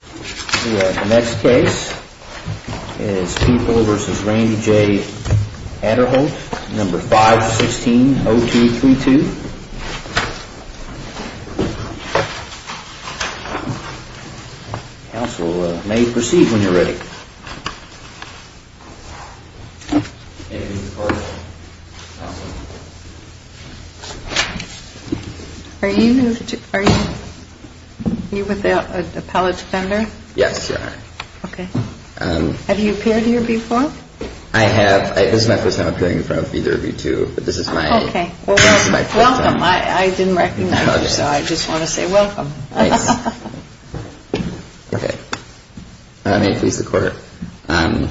The next case is People v. Randy J. Aderholt 516-0232 Council may proceed when you are ready. Are you with the Appellate Defender? Yes. Have you appeared here before? I have. This is my first time appearing in front of either of you two, but this is my first time. I didn't recognize you, so I just want to say welcome. May it please the Court. My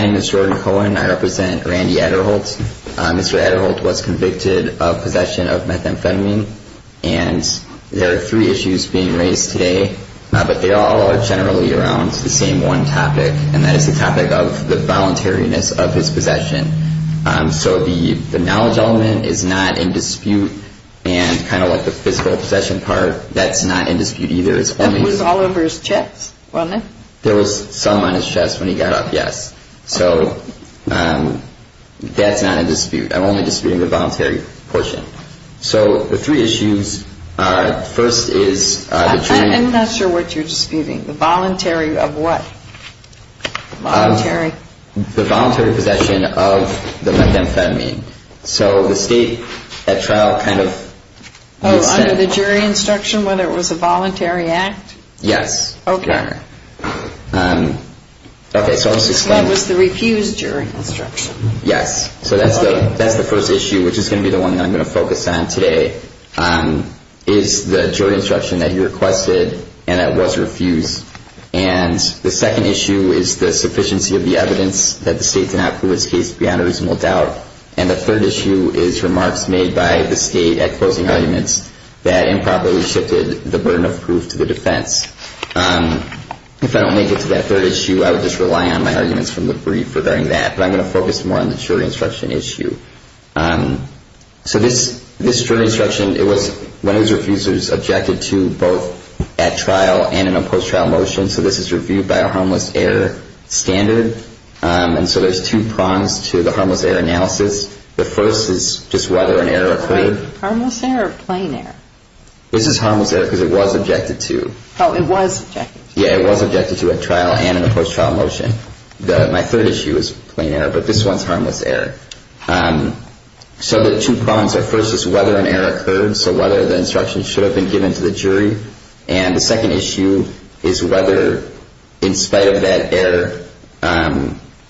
name is Jordan Cohen. I represent Randy Aderholt. Mr. Aderholt was convicted of possession of methamphetamine, and there are three issues being raised today, but they all are generally around the same one topic, and that is the topic of the voluntariness of his possession. So the knowledge element is not in dispute, and kind of like the physical possession part, that's not in dispute either. It was all over his chest, wasn't it? There was some on his chest when he got up, yes. So that's not in dispute. I'm only disputing the voluntary portion. So the three issues, first is the jury. I'm not sure what you're disputing. The voluntary of what? The voluntary possession of the methamphetamine. So the state at trial kind of. Under the jury instruction, whether it was a voluntary act? Yes. Okay. What was the refused jury instruction? Yes. So that's the first issue, which is going to be the one that I'm going to focus on today, is the jury instruction that he requested and that was refused. And the second issue is the sufficiency of the evidence that the state did not prove his case beyond a reasonable doubt. And the third issue is remarks made by the state at closing arguments that improperly shifted the burden of proof to the defense. If I don't make it to that third issue, I would just rely on my arguments from the brief regarding that. But I'm going to focus more on the jury instruction issue. So this jury instruction, it was one of his refusers objected to both at trial and in a post-trial motion. So this is reviewed by a harmless error standard. And so there's two prongs to the harmless error analysis. The first is just whether an error occurred. Harmless error or plain error? This is harmless error because it was objected to. Oh, it was objected to. Yeah, it was objected to at trial and in a post-trial motion. My third issue is plain error, but this one's harmless error. So the two prongs are first is whether an error occurred, so whether the instruction should have been given to the jury. And the second issue is whether, in spite of that error,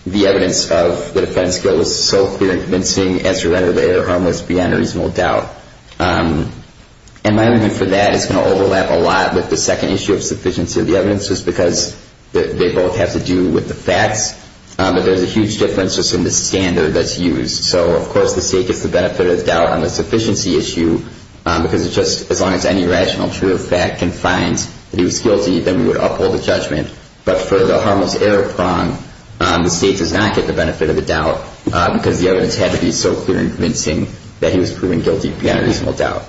the evidence of the defense goes so clear and convincing as to whether they are harmless beyond a reasonable doubt. And my argument for that is going to overlap a lot with the second issue of sufficiency of the evidence just because they both have to do with the facts. But there's a huge difference just in the standard that's used. So, of course, the state gets the benefit of the doubt on the sufficiency issue because it's just as long as any rational, true fact can find that he was guilty, then we would uphold the judgment. But for the harmless error prong, the state does not get the benefit of the doubt because the evidence had to be so clear and convincing that he was proven guilty beyond a reasonable doubt.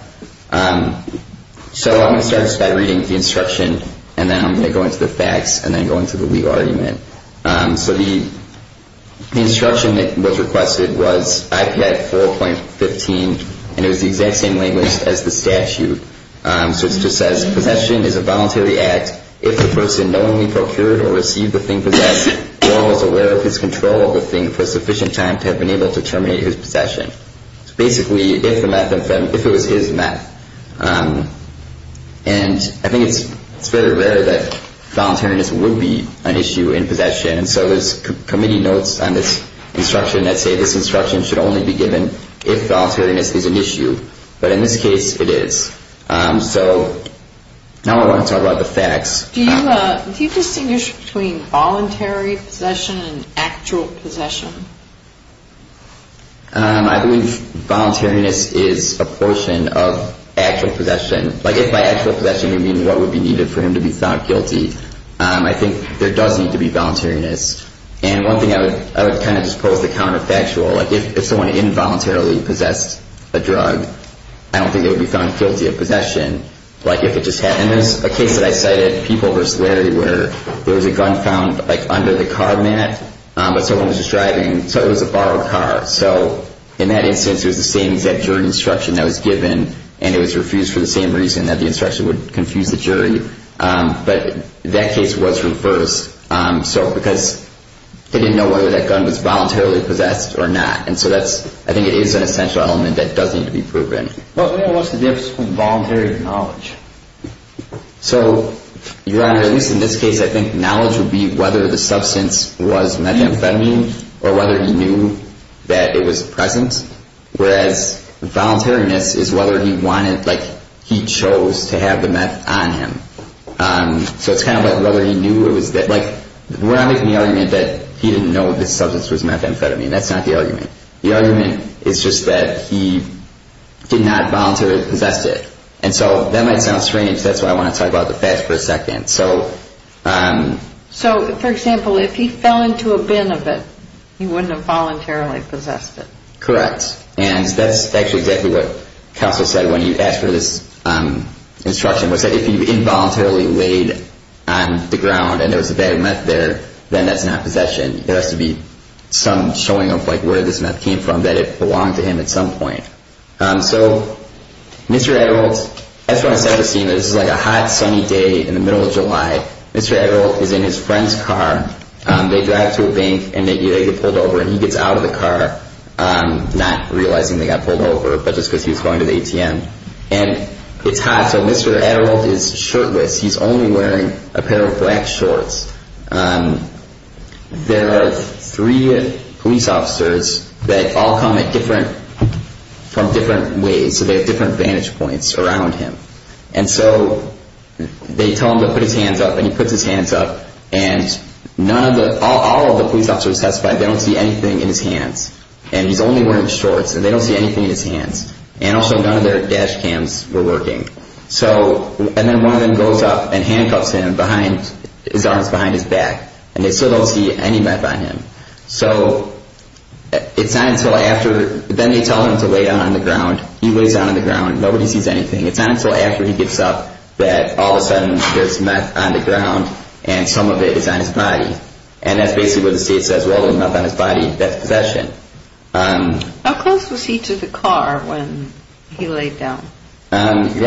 So I'm going to start just by reading the instruction, and then I'm going to go into the facts and then go into the legal argument. So the instruction that was requested was IPAD 4.15, and it was the exact same language as the statute. So it just says, Possession is a voluntary act if the person knowingly procured or received the thing possessed or was aware of his control of the thing for sufficient time to have been able to terminate his possession. So basically, if it was his meth. And I think it's very rare that voluntariness would be an issue in possession, and so there's committee notes on this instruction that say this instruction should only be given if voluntariness is an issue. But in this case, it is. So now I want to talk about the facts. Do you distinguish between voluntary possession and actual possession? I believe voluntariness is a portion of actual possession. Like, if by actual possession you mean what would be needed for him to be found guilty, I think there does need to be voluntariness. And one thing I would kind of just pose the counterfactual. Like, if someone involuntarily possessed a drug, I don't think they would be found guilty of possession. Like, if it just happened. There's a case that I cited, People v. Larry, where there was a gun found, like, under the car mat, but someone was just driving, so it was a borrowed car. So in that instance, it was the same exact jury instruction that was given, and it was refused for the same reason that the instruction would confuse the jury. But that case was reversed because they didn't know whether that gun was voluntarily possessed or not. And so I think it is an essential element that does need to be proven. Well, what's the difference between voluntary and knowledge? So, Your Honor, at least in this case, I think knowledge would be whether the substance was methamphetamine or whether he knew that it was present. Whereas, voluntariness is whether he wanted, like, he chose to have the meth on him. So it's kind of like whether he knew it was there. Like, we're not making the argument that he didn't know this substance was methamphetamine. That's not the argument. The argument is just that he did not voluntarily possess it. And so that might sound strange. That's why I want to talk about the past for a second. So, for example, if he fell into a bin of it, he wouldn't have voluntarily possessed it. Correct. And that's actually exactly what counsel said when you asked for this instruction, was that if he involuntarily laid on the ground and there was a bag of meth there, then that's not possession. There has to be some showing of, like, where this meth came from that it belonged to him at some point. So, Mr. Adderall, that's when I started seeing this. It's like a hot, sunny day in the middle of July. Mr. Adderall is in his friend's car. They drive to a bank and they get pulled over, and he gets out of the car, not realizing they got pulled over, but just because he was going to the ATM. And it's hot, so Mr. Adderall is shirtless. He's only wearing a pair of black shorts. There are three police officers that all come from different ways, so they have different vantage points around him. And so they tell him to put his hands up, and he puts his hands up, and all of the police officers testified they don't see anything in his hands. And he's only wearing shorts, and they don't see anything in his hands. And also none of their dash cams were working. And then one of them goes up and handcuffs him, his arms behind his back, and they still don't see any meth on him. So it's not until after, then they tell him to lay down on the ground. He lays down on the ground. Nobody sees anything. It's not until after he gets up that all of a sudden there's meth on the ground, and some of it is on his body. And that's basically what the state says, well, there's meth on his body. That's possession. How close was he to the car when he laid down? Your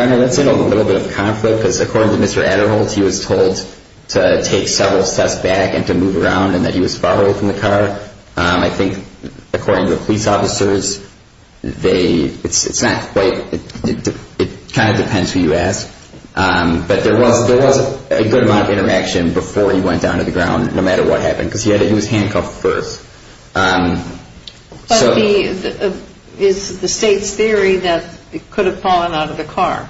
Honor, that's a little bit of a conflict, because according to Mr. Adderholtz, he was told to take several steps back and to move around, and that he was far away from the car. I think according to the police officers, they – it's not quite – it kind of depends who you ask. But there was a good amount of interaction before he went down to the ground, no matter what happened, because he was handcuffed first. But is the state's theory that he could have fallen out of the car?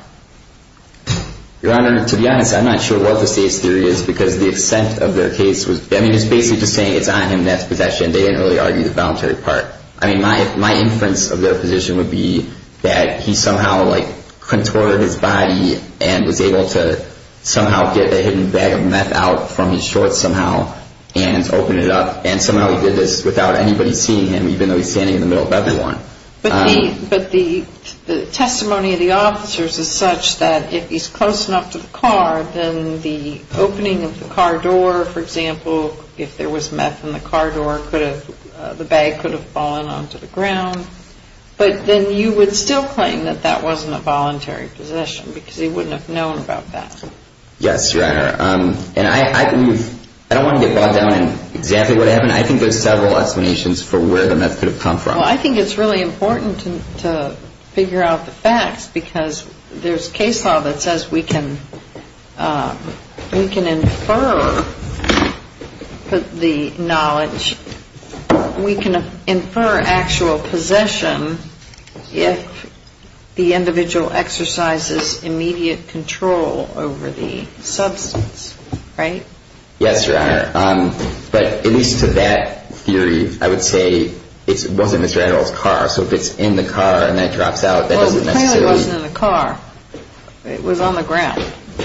Your Honor, to be honest, I'm not sure what the state's theory is, because the assent of their case was – I mean, it's basically just saying it's on him, and that's possession. They didn't really argue the voluntary part. I mean, my inference of their position would be that he somehow, like, contorted his body and was able to somehow get a hidden bag of meth out from his shorts somehow and open it up, and somehow he did this without anybody seeing him, even though he's standing in the middle of everyone. But he – but the testimony of the officers is such that if he's close enough to the car, then the opening of the car door, for example, if there was meth in the car door, could have – the bag could have fallen onto the ground. But then you would still claim that that wasn't a voluntary possession, because he wouldn't have known about that. Yes, Your Honor. And I believe – I don't want to get bogged down in exactly what happened. I think there's several explanations for where the meth could have come from. Well, I think it's really important to figure out the facts, because there's case law that says we can infer the knowledge. We can infer actual possession if the individual exercises immediate control over the substance. Right? Yes, Your Honor. But at least to that theory, I would say it wasn't Mr. Adderall's car. So if it's in the car and then it drops out, that doesn't necessarily – Well, it clearly wasn't in the car. It was on the ground.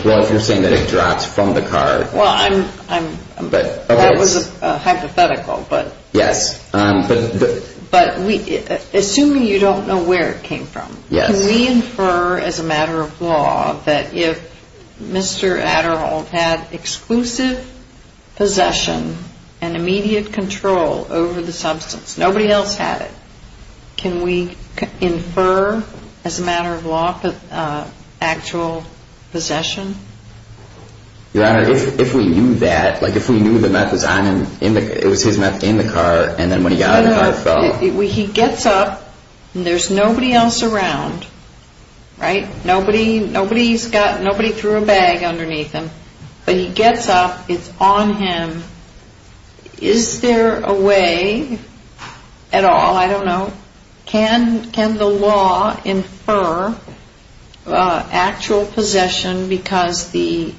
Well, if you're saying that it drops from the car – Well, I'm – that was hypothetical, but – Yes. But we – assuming you don't know where it came from, can we infer as a matter of law that if Mr. Adderall had exclusive possession and immediate control over the substance, nobody else had it, can we infer as a matter of law actual possession? Your Honor, if we knew that, like if we knew the meth was on him – it was his meth in the car, and then when he got out of the car it fell – No, no. He gets up and there's nobody else around, right? Nobody's got – nobody threw a bag underneath him. But he gets up, it's on him. Is there a way at all – I don't know – can the law infer actual possession because the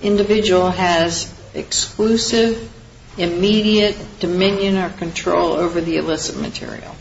individual has exclusive, immediate dominion or control over the illicit material?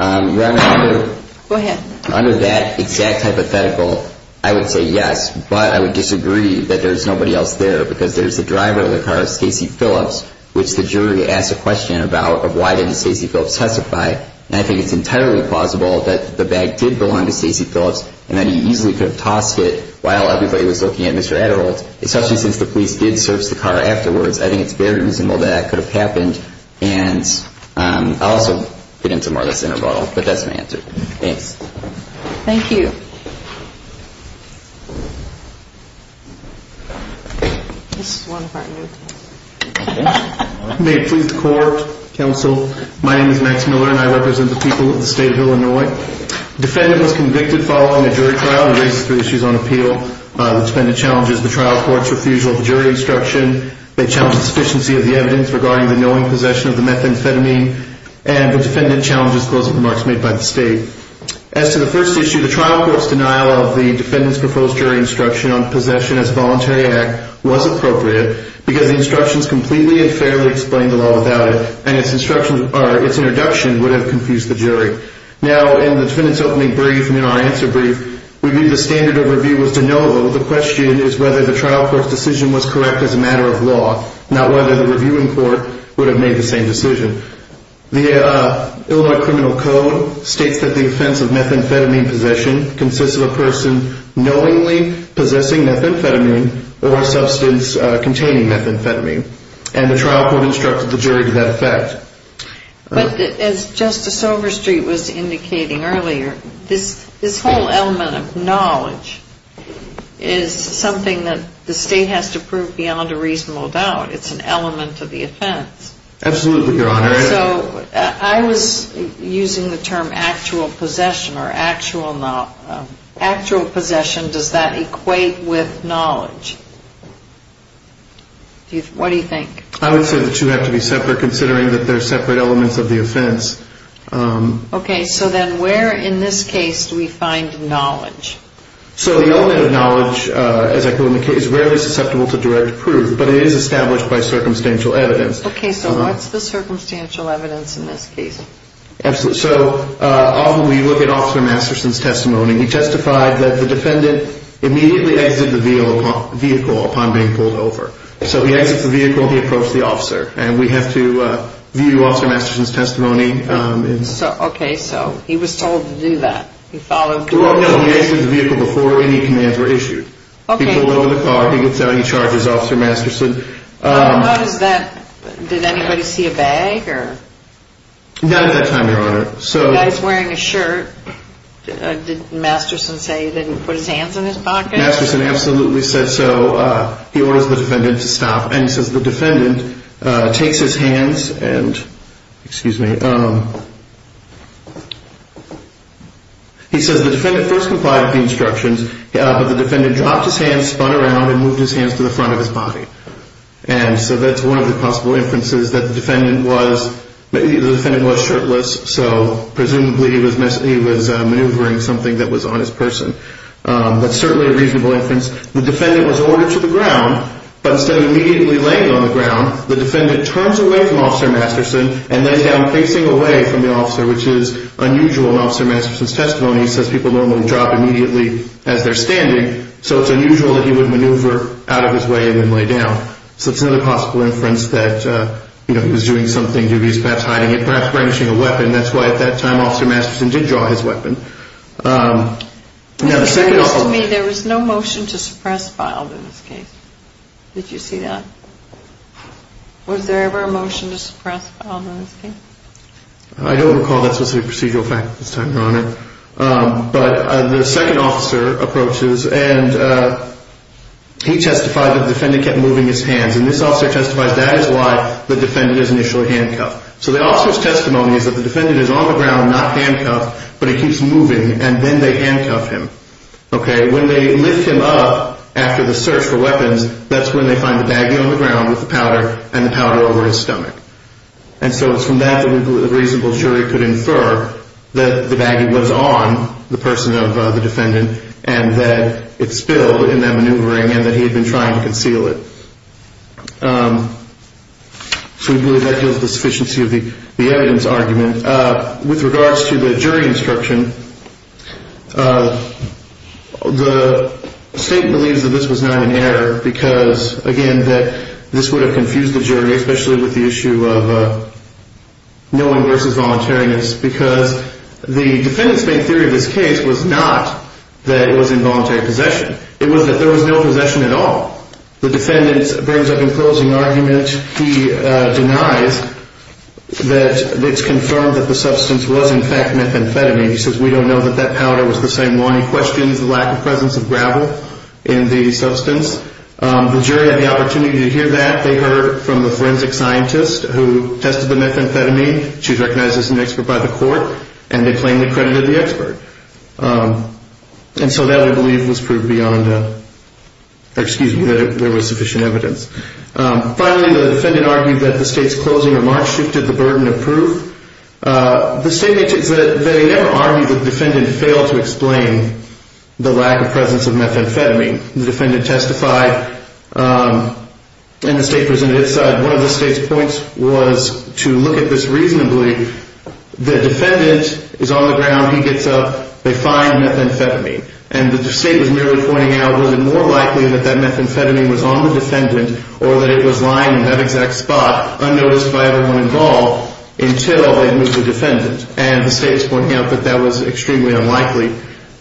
Your Honor, under – Go ahead. Under that exact hypothetical, I would say yes, but I would disagree that there's nobody else there because there's the driver of the car, Stacy Phillips, which the jury asked a question about of why didn't Stacy Phillips testify, and I think it's entirely plausible that the bag did belong to Stacy Phillips and that he easily could have tossed it while everybody was looking at Mr. Adderall, especially since the police did search the car afterwards. I think it's very reasonable that that could have happened, and I'll also get into more of this in a moment, but that's my answer. Thanks. Thank you. This is one part new. May it please the Court, Counsel, my name is Max Miller and I represent the people of the State of Illinois. The defendant was convicted following a jury trial and raised three issues on appeal. The defendant challenges the trial court's refusal of jury instruction. They challenge the sufficiency of the evidence regarding the knowing possession of the methamphetamine, and the defendant challenges closing remarks made by the State. As to the first issue, the trial court's denial of the defendant's proposed jury instruction on possession as voluntary act was appropriate because the instructions completely and fairly explained the law without it, and its introduction would have confused the jury. Now, in the defendant's opening brief and in our answer brief, we view the standard of review as de novo. The question is whether the trial court's decision was correct as a matter of law, not whether the reviewing court would have made the same decision. The Illinois Criminal Code states that the offense of methamphetamine possession consists of a person knowingly possessing methamphetamine or a substance containing methamphetamine, and the trial court instructed the jury to that effect. But as Justice Overstreet was indicating earlier, this whole element of knowledge is something that the State has to prove beyond a reasonable doubt. It's an element of the offense. Absolutely, Your Honor. So I was using the term actual possession or actual not. Actual possession, does that equate with knowledge? What do you think? I would say the two have to be separate, considering that they're separate elements of the offense. Okay. So then where in this case do we find knowledge? So the element of knowledge, as I put it in the case, is rarely susceptible to direct proof, but it is established by circumstantial evidence. Okay, so what's the circumstantial evidence in this case? So often we look at Officer Masterson's testimony. He testified that the defendant immediately exited the vehicle upon being pulled over. So he exits the vehicle, he approached the officer, and we have to view Officer Masterson's testimony. Okay, so he was told to do that. He followed orders. No, he exited the vehicle before any commands were issued. He pulled over the car, he gets out, he charges Officer Masterson. Did anybody see a bag? Not at that time, Your Honor. The guy's wearing a shirt. Did Masterson say he didn't put his hands in his pocket? Masterson absolutely said so. He orders the defendant to stop, and he says the defendant takes his hands and, excuse me, he says the defendant first complied with the instructions, but the defendant dropped his hands, spun around, and moved his hands to the front of his body. And so that's one of the possible inferences that the defendant was shirtless, so presumably he was maneuvering something that was on his person. That's certainly a reasonable inference. The defendant was ordered to the ground, but instead of immediately laying on the ground, the defendant turns away from Officer Masterson and lays down, facing away from the officer, which is unusual in Officer Masterson's testimony. He says people normally drop immediately as they're standing, so it's unusual that he would maneuver out of his way and then lay down. So it's another possible inference that he was doing something, he was perhaps hiding it, perhaps brandishing a weapon. That's why at that time Officer Masterson did draw his weapon. Now, the second officer… It appears to me there was no motion to suppress Fylde in this case. Did you see that? Was there ever a motion to suppress Fylde in this case? I don't recall that specific procedural fact at this time, Your Honor. But the second officer approaches, and he testified that the defendant kept moving his hands, and this officer testifies that is why the defendant is initially handcuffed. So the officer's testimony is that the defendant is on the ground, not handcuffed, but he keeps moving, and then they handcuff him. When they lift him up after the search for weapons, that's when they find the baggy on the ground with the powder, and the powder over his stomach. And so it's from that that we believe a reasonable jury could infer that the baggy was on the person of the defendant and that it spilled in that maneuvering and that he had been trying to conceal it. So we believe that gives the sufficiency of the evidence argument. With regards to the jury instruction, the State believes that this was not an error because, again, that this would have confused the jury, especially with the issue of knowing versus voluntariness, because the defendant's main theory of this case was not that it was involuntary possession. It was that there was no possession at all. The defendant brings up an imposing argument. He denies that it's confirmed that the substance was, in fact, methamphetamine. He says, we don't know that that powder was the same one. He questions the lack of presence of gravel in the substance. The jury had the opportunity to hear that. They heard from the forensic scientist who tested the methamphetamine. She was recognized as an expert by the court, and they plainly credited the expert. And so that, we believe, was proved beyond, excuse me, that there was sufficient evidence. Finally, the defendant argued that the State's closing remarks shifted the burden of proof. The statement is that they never argued that the defendant failed to explain the lack of presence of methamphetamine. The defendant testified, and the State presented its side. One of the State's points was to look at this reasonably. The defendant is on the ground. He gets up. They find methamphetamine. And the State was merely pointing out, was it more likely that that methamphetamine was on the defendant or that it was lying in that exact spot, unnoticed by everyone involved, until they moved the defendant. And the State is pointing out that that was extremely unlikely.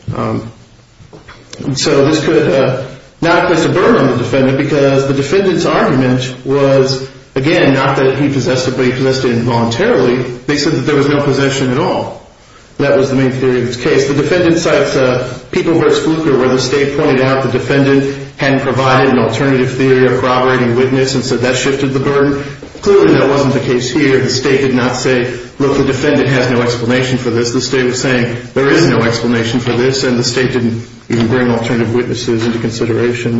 And so this could not place a burden on the defendant because the defendant's argument was, again, not that he possessed it, but he possessed it involuntarily. They said that there was no possession at all. That was the main theory of this case. The defendant cites People vs. Fluker, where the State pointed out the defendant hadn't provided an alternative theory of corroborating witness, and so that shifted the burden. Clearly, that wasn't the case here. The State did not say, look, the defendant has no explanation for this. The State was saying there is no explanation for this, and the State didn't even bring alternative witnesses into consideration.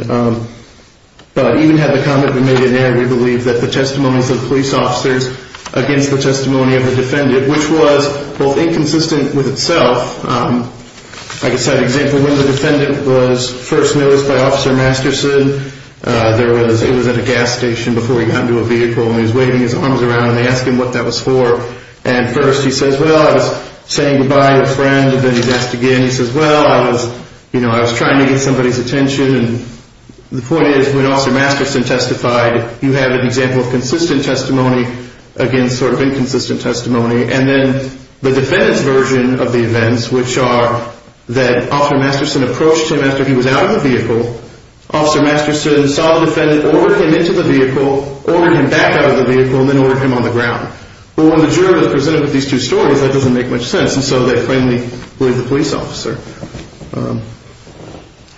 But even had the comment been made in air, we believe that the testimonies of police officers against the testimony of the defendant, which was both inconsistent with itself. I can cite an example. When the defendant was first noticed by Officer Masterson, it was at a gas station before he got into a vehicle, and he was waving his arms around, and they asked him what that was for. And first he says, well, I was saying goodbye to a friend. Then he's asked again. He says, well, I was trying to get somebody's attention. And the point is, when Officer Masterson testified, you have an example of consistent testimony against sort of inconsistent testimony. And then the defendant's version of the events, which are that Officer Masterson approached him after he was out of the vehicle. Officer Masterson saw the defendant, ordered him into the vehicle, ordered him back out of the vehicle, and then ordered him on the ground. Well, when the juror is presented with these two stories, that doesn't make much sense. And so they finally believe the police officer.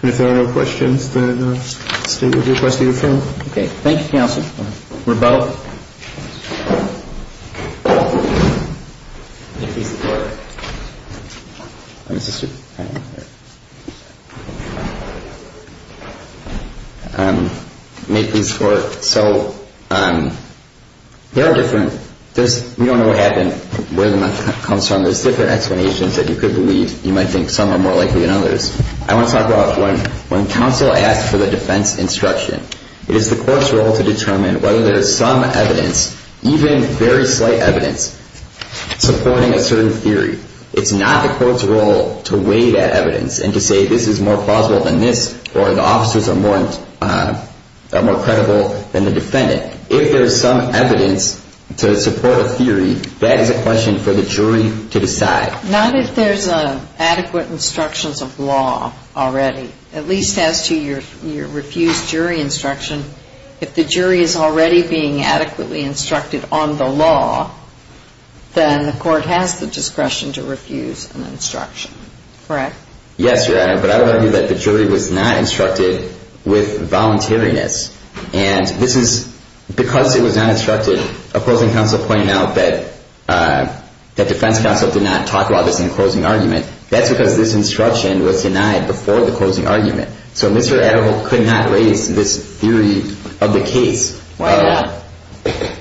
And if there are no questions, then the State would request the adjournment. Okay. Thank you, counsel. We're both. Make these work. Make these work. So they are different. We don't know what happened, where the method comes from. There's different explanations that you could believe. You might think some are more likely than others. I want to talk about one. When counsel asks for the defense instruction, it is the court's role to determine whether there is some evidence, even very slight evidence, supporting a certain theory. It's not the court's role to weigh that evidence and to say this is more plausible than this or the officers are more credible than the defendant. If there is some evidence to support a theory, that is a question for the jury to decide. Not if there's adequate instructions of law already, at least as to your refused jury instruction. If the jury is already being adequately instructed on the law, then the court has the discretion to refuse an instruction. Correct? Yes, Your Honor. But I would argue that the jury was not instructed with voluntariness. Because it was not instructed, opposing counsel pointed out that defense counsel did not talk about this in the closing argument. That's because this instruction was denied before the closing argument. So Mr. Edel could not raise this theory of the case. Why not?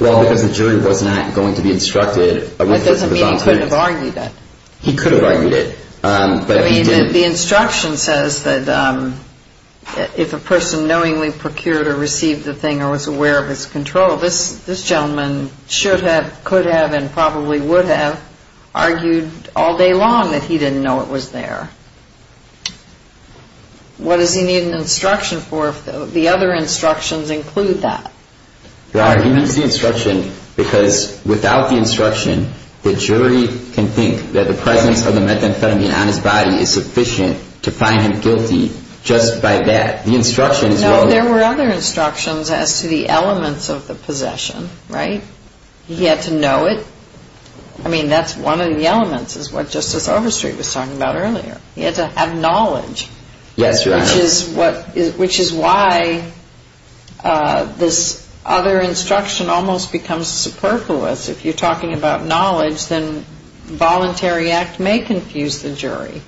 Well, because the jury was not going to be instructed. But that doesn't mean he couldn't have argued it. He could have argued it. The instruction says that if a person knowingly procured or received the thing or was aware of its control, this gentleman should have, could have, and probably would have argued all day long that he didn't know it was there. What does he need an instruction for if the other instructions include that? Your Honor, he needs the instruction because without the instruction, the jury can think that the presence of the methamphetamine on his body is sufficient to find him guilty just by that. The instruction is what... No, there were other instructions as to the elements of the possession. Right? He had to know it. I mean, that's one of the elements is what Justice Overstreet was talking about earlier. He had to have knowledge. Yes, Your Honor. Which is why this other instruction almost becomes superfluous. If you're talking about knowledge, then voluntary act may confuse the jury.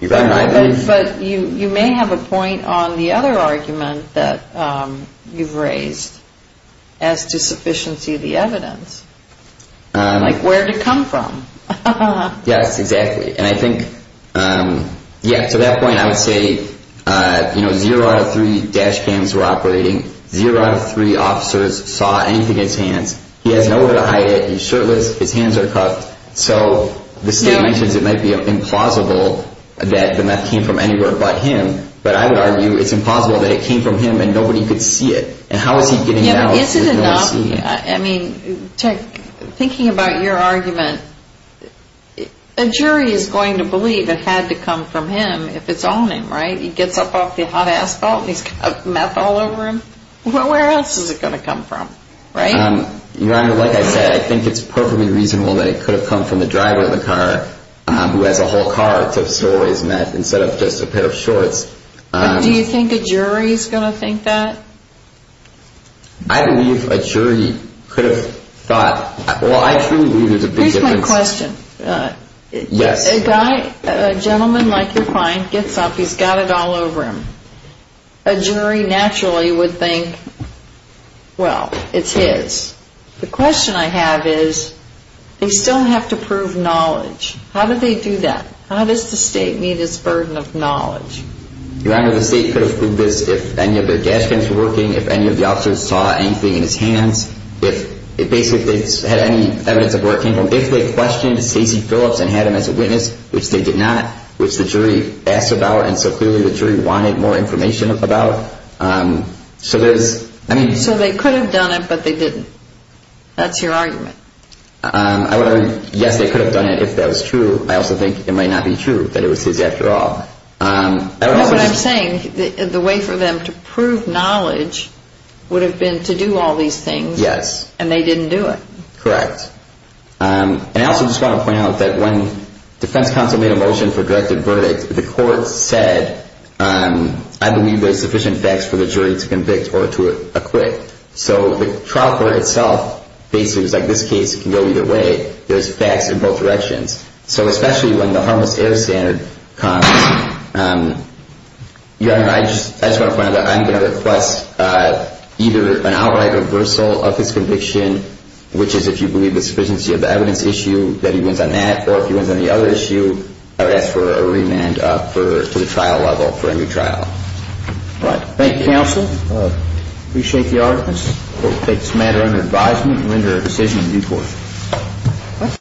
You're right. But you may have a point on the other argument that you've raised as to sufficiency of the evidence. Like where did it come from? Yes, exactly. To that point, I would say zero out of three dash cams were operating. Zero out of three officers saw anything in his hands. He has nowhere to hide it. He's shirtless. His hands are cuffed. So the state mentions it might be implausible that the meth came from anywhere but him. But I would argue it's impossible that it came from him and nobody could see it. And how is he getting it out? I mean, is it enough? I mean, thinking about your argument, a jury is going to believe it had to come from him if it's on him, right? He gets up off the hot asphalt and he's got meth all over him. Well, where else is it going to come from, right? Your Honor, like I said, I think it's perfectly reasonable that it could have come from the driver of the car who has a whole car to store his meth instead of just a pair of shorts. Do you think a jury is going to think that? I believe a jury could have thought. Well, I truly believe there's a big difference. Here's my question. Yes. A guy, a gentleman like your client gets up. He's got it all over him. A jury naturally would think, well, it's his. The question I have is they still have to prove knowledge. How do they do that? How does the state meet its burden of knowledge? Your Honor, the state could have proved this if any of their dash cams were working, if any of the officers saw anything in his hands, if basically they had any evidence of work. If they questioned Stacey Phillips and had him as a witness, which they did not, which the jury asked about and so clearly the jury wanted more information about. So there's, I mean. So they could have done it, but they didn't. That's your argument. Yes, they could have done it if that was true. I also think it might not be true that it was his after all. No, but I'm saying the way for them to prove knowledge would have been to do all these things. Yes. And they didn't do it. Correct. And I also just want to point out that when defense counsel made a motion for directed verdict, the court said I believe there's sufficient facts for the jury to convict or to acquit. So the trial court itself basically was like this case can go either way. There's facts in both directions. So especially when the harmless error standard comes, I just want to point out that I'm going to request either an outright reversal of his conviction, which is if you believe the sufficiency of the evidence issue that he wins on that, or if he wins on the other issue, I would ask for a remand to the trial level for a new trial. All right. Thank you, counsel. I appreciate the arguments. The court takes the matter under advisement and render a decision in due course.